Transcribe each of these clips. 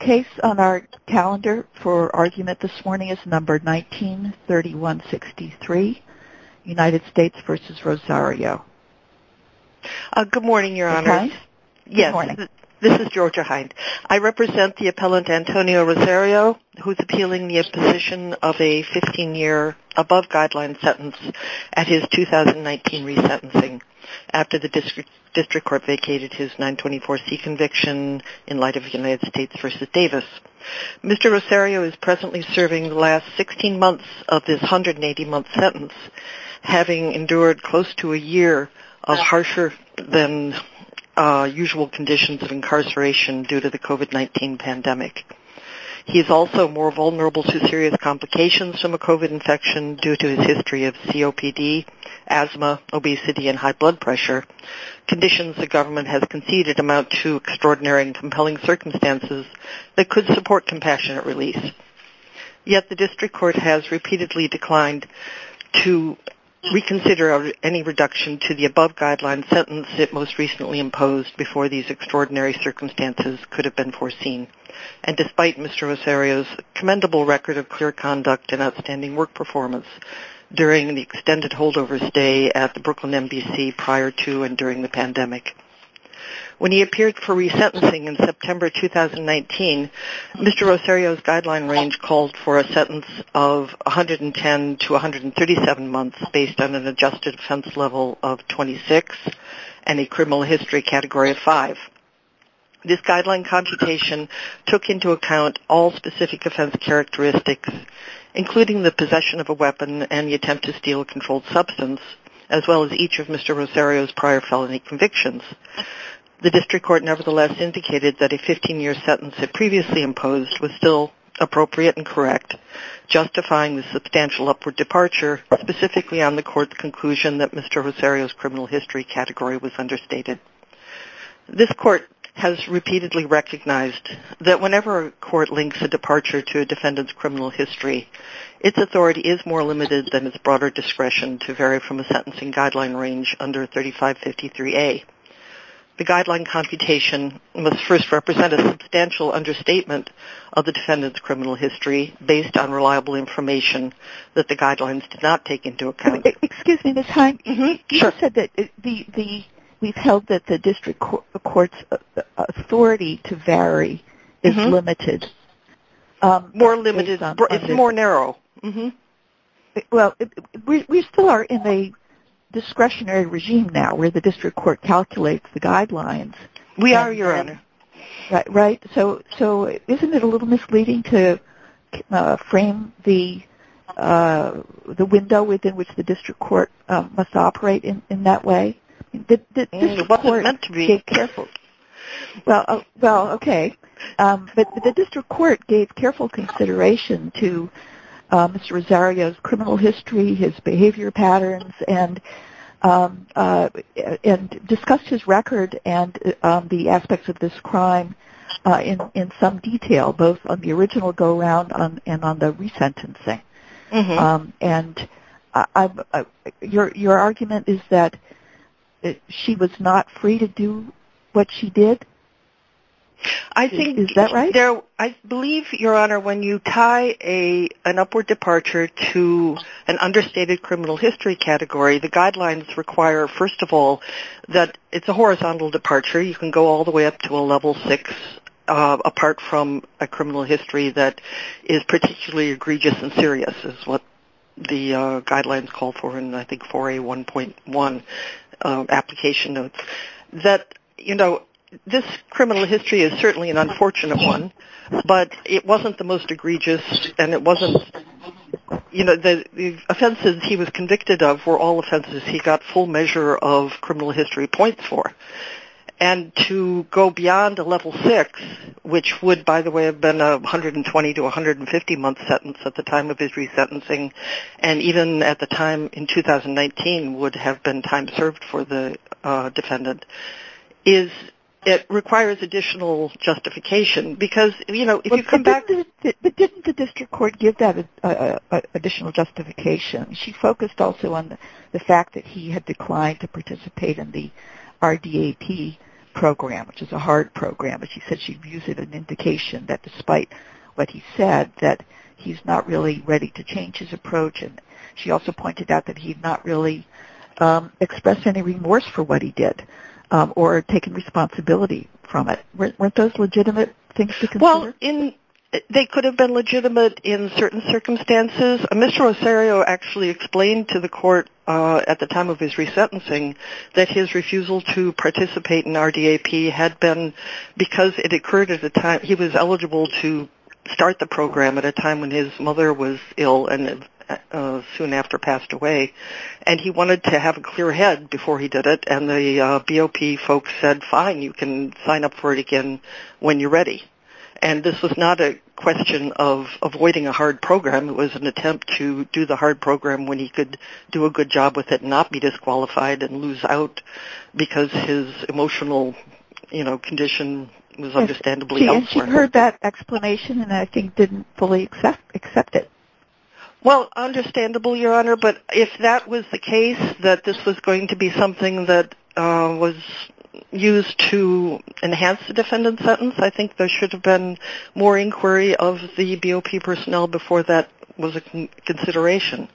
The case on our calendar for argument this morning is number 19-3163, United States v. Rosario. Good morning, Your Honor. Good morning. Yes. This is Georgia Hynde. I represent the appellant Antonio Rosario, who is appealing the imposition of a 15-year above guideline sentence at his 2019 resentencing after the district court vacated his 924C conviction in light of United States v. Davis. Mr. Rosario is presently serving the last 16 months of his 180-month sentence, having endured close to a year of harsher than usual conditions of incarceration due to the COVID-19 pandemic. He is also more vulnerable to serious complications from a COVID infection due to his history of COPD, asthma, obesity, and high blood pressure. Conditions the government has conceded amount to extraordinary and compelling circumstances that could support compassionate release. Yet the district court has repeatedly declined to reconsider any reduction to the above guideline sentence it most recently imposed before these extraordinary circumstances could have been foreseen. And despite Mr. Rosario's commendable record of clear conduct and outstanding work performance during the extended holdover stay at the Brooklyn NBC prior to and during the pandemic. When he appeared for resentencing in September 2019, Mr. Rosario's guideline range called for a sentence of 110 to 137 months based on an adjusted offense level of 26 and a criminal history category of 5. This guideline computation took into account all specific offense characteristics, including the possession of a weapon and the attempt to steal a controlled substance, as well as each of Mr. Rosario's prior felony convictions. The district court nevertheless indicated that a 15-year sentence it previously imposed was still appropriate and correct, justifying the substantial upward departure specifically on the court's conclusion that Mr. Rosario's criminal history category was understated. This court has repeatedly recognized that whenever a court links a departure to a defendant's criminal history, its authority is more limited than its broader discretion to vary from a sentencing guideline range under 3553A. The guideline computation must first represent a substantial understatement of the defendant's criminal history based on reliable information that the guidelines did not take into account. Excuse me, the time. Mm-hmm. Sure. You said that we've held that the district court's authority to vary is limited. More limited. It's more narrow. Mm-hmm. Well, we still are in a discretionary regime now where the district court calculates the guidelines. We are, Your Honor. Right? So isn't it a little misleading to frame the window within which the district court must operate in that way? It wasn't meant to be. Well, okay. But the district court gave careful consideration to Mr. Rosario's criminal history, his behavior patterns, and discussed his record and the aspects of this crime in some detail, both on the original go-around and on the resentencing. Mm-hmm. And your argument is that she was not free to do what she did? Is that right? I believe, Your Honor, when you tie an upward departure to an understated criminal history category, the guidelines require, first of all, that it's a horizontal departure. You can go all the way up to a level six apart from a criminal history that is particularly egregious and serious is what the guidelines call for in, I think, 4A1.1 application notes. This criminal history is certainly an unfortunate one, but it wasn't the most egregious. And the offenses he was convicted of were all offenses he got full measure of criminal history points for. And to go beyond a level six, which would, by the way, have been a 120 to 150-month sentence at the time of his resentencing, and even at the time in 2019 would have been a 120 to 150-month sentence at the time served for the defendant, it requires additional justification. But didn't the district court give that additional justification? She focused also on the fact that he had declined to participate in the RDAP program, which is a hard program. But she said she views it an indication that despite what he said, that he's not really ready to change his approach. She also pointed out that he's not really expressed any remorse for what he did or taken responsibility from it. Weren't those legitimate things to consider? Well, they could have been legitimate in certain circumstances. Mr. Rosario actually explained to the court at the time of his resentencing that his refusal to participate in RDAP had been because it occurred at the time he was eligible to start the program at a time when his mother was ill and soon after passed away. And he wanted to have a clear head before he did it. And the BOP folks said, fine, you can sign up for it again when you're ready. And this was not a question of avoiding a hard program. It was an attempt to do the hard program when he could do a good job with it and not be disqualified and lose out because his emotional condition was understandably elsewhere. I heard that explanation and I think didn't fully accept it. Well, understandable, Your Honor. But if that was the case, that this was going to be something that was used to enhance the defendant's sentence, I think there should have been more inquiry of the BOP personnel before that was a consideration.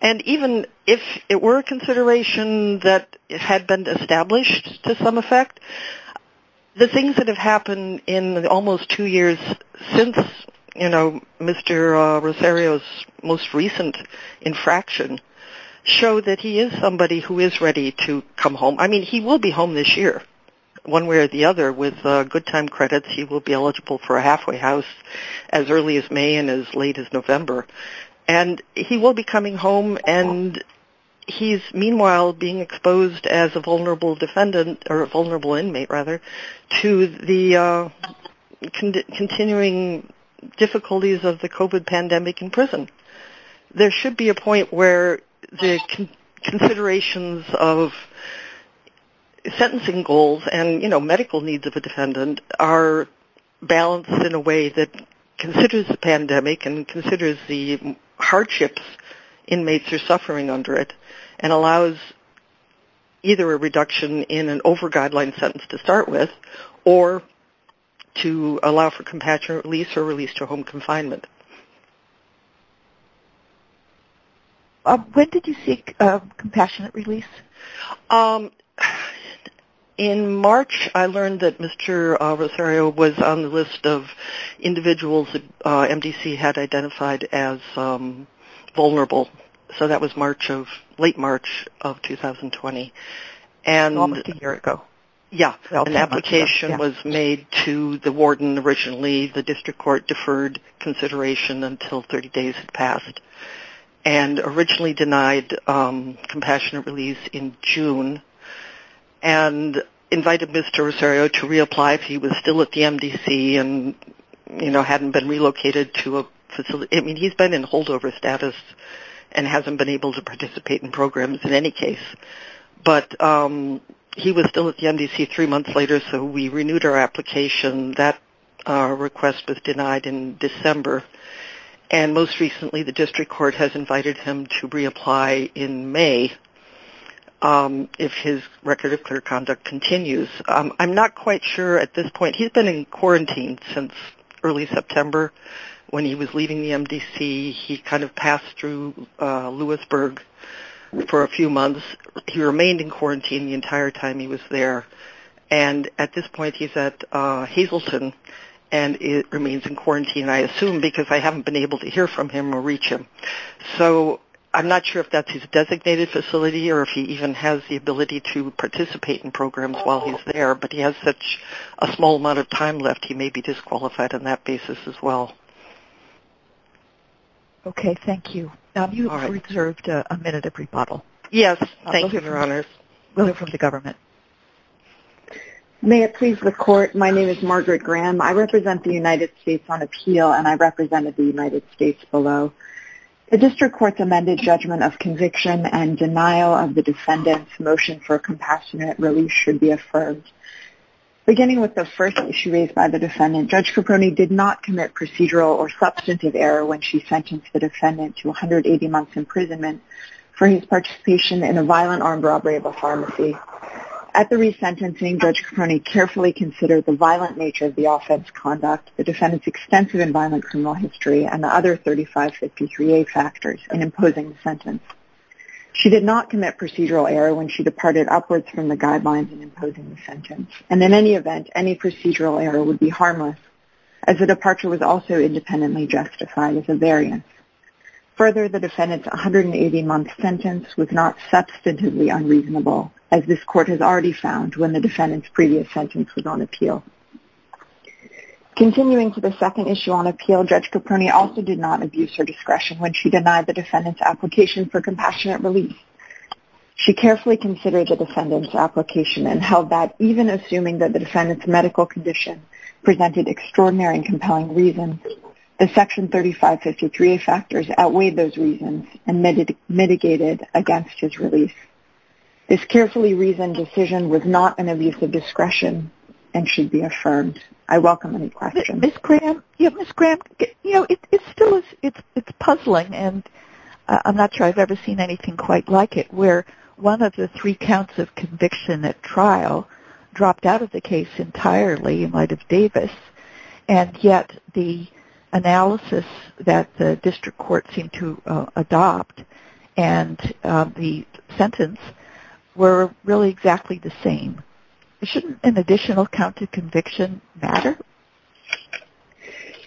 And even if it were a consideration that had been established to some effect, the things that have happened in almost two years since Mr. Rosario's most recent infraction show that he is somebody who is ready to come home. I mean, he will be home this year, one way or the other, with good time credits. He will be eligible for a halfway house as early as May and as late as November. And he will be coming home and he's meanwhile being exposed as a vulnerable defendant or a victim to the continuing difficulties of the COVID pandemic in prison. There should be a point where the considerations of sentencing goals and medical needs of the defendant are balanced in a way that considers the pandemic and considers the hardships inmates are suffering under it and allows either a reduction in an over-guideline sentence to start with or to allow for compassionate release or release to home confinement. When did you seek compassionate release? In March, I learned that Mr. Rosario was on the list of individuals that MDC had identified as vulnerable. So that was late March of 2020. Almost a year ago. Yes. An application was made to the warden originally. And originally denied compassionate release in June. And invited Mr. Rosario to reapply if he was still at the MDC and hadn't been relocated to a facility. I mean, he's been in holdover status and hasn't been able to participate in programs in any case. But he was still at the MDC three months later, so we renewed our application. That request was denied in December. And most recently, the district court has invited him to reapply in May if his record of clear conduct continues. I'm not quite sure at this point. He's been in quarantine since early September when he was leaving the MDC. He kind of passed through Lewisburg for a few months. He remained in quarantine the entire time he was there. And at this point, he's at Hazleton. And remains in quarantine, I assume, because I haven't been able to hear from him or reach him. So I'm not sure if that's his designated facility or if he even has the ability to participate in programs while he's there. But he has such a small amount of time left, he may be disqualified on that basis as well. Okay. Thank you. You have reserved a minute of rebuttal. Yes. Thank you. Thank you, Your Honors. We'll hear from the government. May it please the court, my name is Margaret Graham. I represent the United States on appeal, and I represented the United States below. The district court's amended judgment of conviction and denial of the defendant's motion for a compassionate release should be affirmed. Beginning with the first issue raised by the defendant, Judge Caproni did not commit procedural or substantive error when she sentenced the defendant to 180 months imprisonment for his participation in a violent armed robbery of a pharmacy. At the resentencing, Judge Caproni carefully considered the violent nature of the offense conduct, the defendant's extensive and violent criminal history, and the other 3553A factors in imposing the sentence. She did not commit procedural error when she departed upwards from the guidelines in imposing the sentence. And in any event, any procedural error would be harmless, as the departure was also independently justified as a variance. Further, the defendant's 180-month sentence was not substantively unreasonable, as this court has already found when the defendant's previous sentence was on appeal. Continuing to the second issue on appeal, Judge Caproni also did not abuse her discretion when she denied the defendant's application for compassionate release. She carefully considered the defendant's application and held that, even assuming that the defendant's medical condition presented extraordinary and compelling reasons, the section 3553A factors outweighed those reasons and mitigated against his release. This carefully reasoned decision was not an abuse of discretion, and should be affirmed. I welcome any questions. Ms. Graham, it is puzzling, and I am not sure I have ever seen anything quite like it, where one of the three counts of conviction at trial dropped out of the case entirely in light of Davis, and yet the analysis that the district court seemed to adopt and the sentence were really exactly the same. Shouldn't an additional count of conviction matter?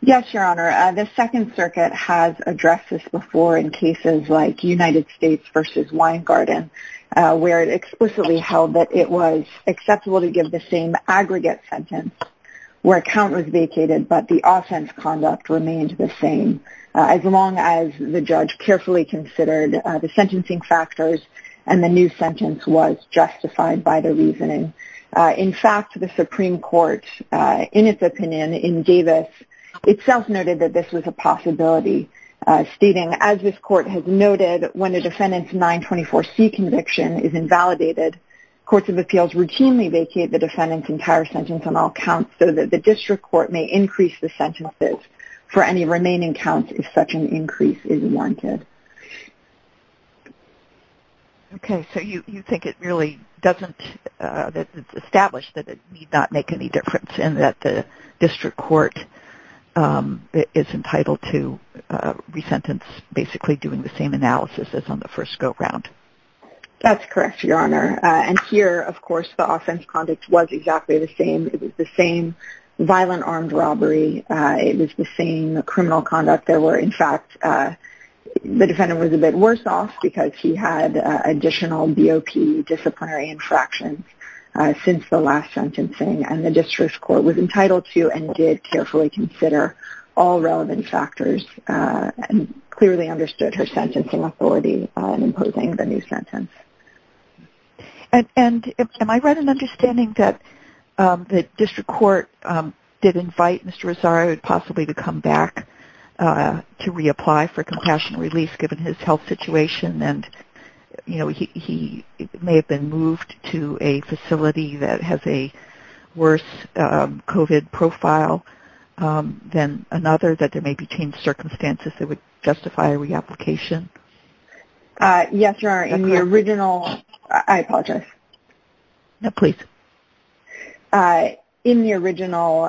Yes, Your Honor. The Second Circuit has addressed this before in cases like United States v. Weingarten, where it explicitly held that it was acceptable to give the same aggregate sentence where a count was vacated, but the offense conduct remained the same. As long as the judge carefully considered the sentencing factors and the new sentence was justified by the reasoning. In fact, the Supreme Court, in its opinion, in Davis, itself noted that this was a possibility, stating, As this Court has noted, when a defendant's 924C conviction is invalidated, Courts of Appeals routinely vacate the defendant's entire sentence on all counts so that the district court may increase the sentences for any remaining counts if such an increase is wanted. Okay, so you think it really doesn't, that it's established that it need not make any difference in that the district court is entitled to re-sentence, basically doing the same analysis as on the first go-round? That's correct, Your Honor. And here, of course, the offense conduct was exactly the same. It was the same violent armed robbery. It was the same criminal conduct. In fact, the defendant was a bit worse off because he had additional BOP disciplinary infractions since the last sentencing. And the district court was entitled to and did carefully consider all relevant factors and clearly understood her sentencing authority in imposing the new sentence. And am I right in understanding that the district court did invite Mr. Rosario, possibly, to come back to reapply for compassionate release, given his health situation? And, you know, he may have been moved to a facility that has a worse COVID profile than another, that there may be changed circumstances that would justify a reapplication? Yes, Your Honor. In the original – I apologize. No, please. In the original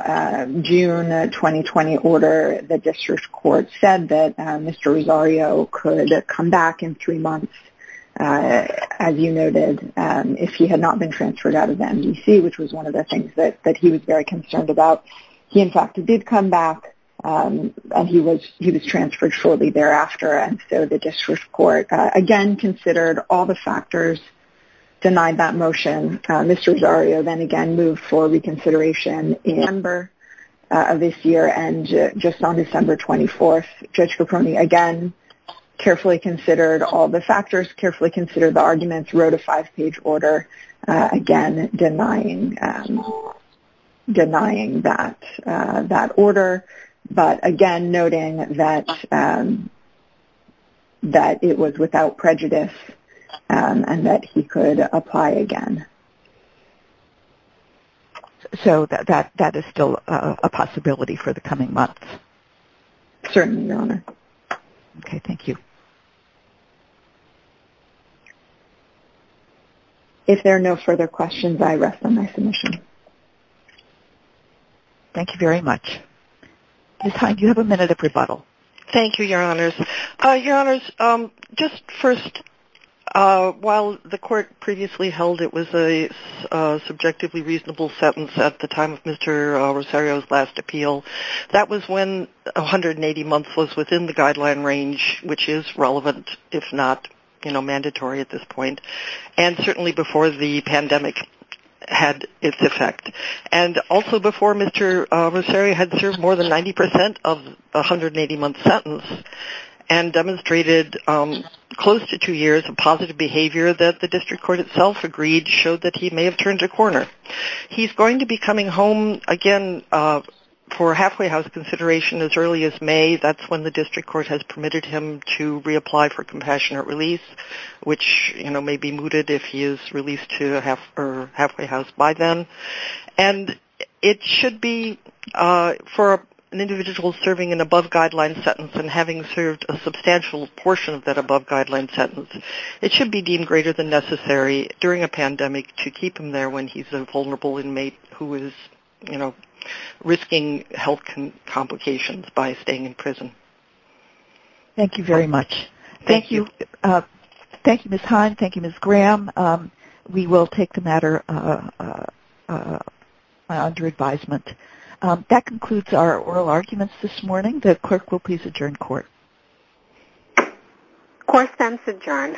June 2020 order, the district court said that Mr. Rosario could come back in three months, as you noted, if he had not been transferred out of MDC, which was one of the things that he was very concerned about. He, in fact, did come back, and he was transferred shortly thereafter. And so the district court, again, considered all the factors, denied that motion. Mr. Rosario then again moved for reconsideration in November of this year and just on December 24th. Again, carefully considered all the factors, carefully considered the arguments, wrote a five-page order, again, denying that order. But again, noting that it was without prejudice and that he could apply again. So that is still a possibility for the coming months? Certainly, Your Honor. Okay, thank you. If there are no further questions, I rest on my submission. Thank you very much. Ms. Hynde, you have a minute of rebuttal. Thank you, Your Honors. Your Honors, just first, while the court previously held it was a subjectively reasonable sentence at the time of Mr. Rosario's last appeal, that was when 180 months was within the guideline range, which is relevant, if not mandatory at this point, and certainly before the pandemic had its effect. And also before Mr. Rosario had served more than 90% of the 180-month sentence and demonstrated close to two years of positive behavior that the district court itself agreed showed that he may have turned a corner. He is going to be coming home, again, for halfway house consideration as early as May. That is when the district court has permitted him to reapply for compassionate release, which may be mooted if he is released to a halfway house by then. And it should be, for an individual serving an above-guideline sentence and having served a substantial portion of that above-guideline sentence, it should be deemed greater than necessary during a pandemic to keep him there when he is a vulnerable inmate who is risking health complications by staying in prison. Thank you very much. Thank you. Thank you, Ms. Hynde. Thank you, Ms. Graham. We will take the matter under advisement. That concludes our oral arguments this morning. The clerk will please adjourn court. Court stands adjourned.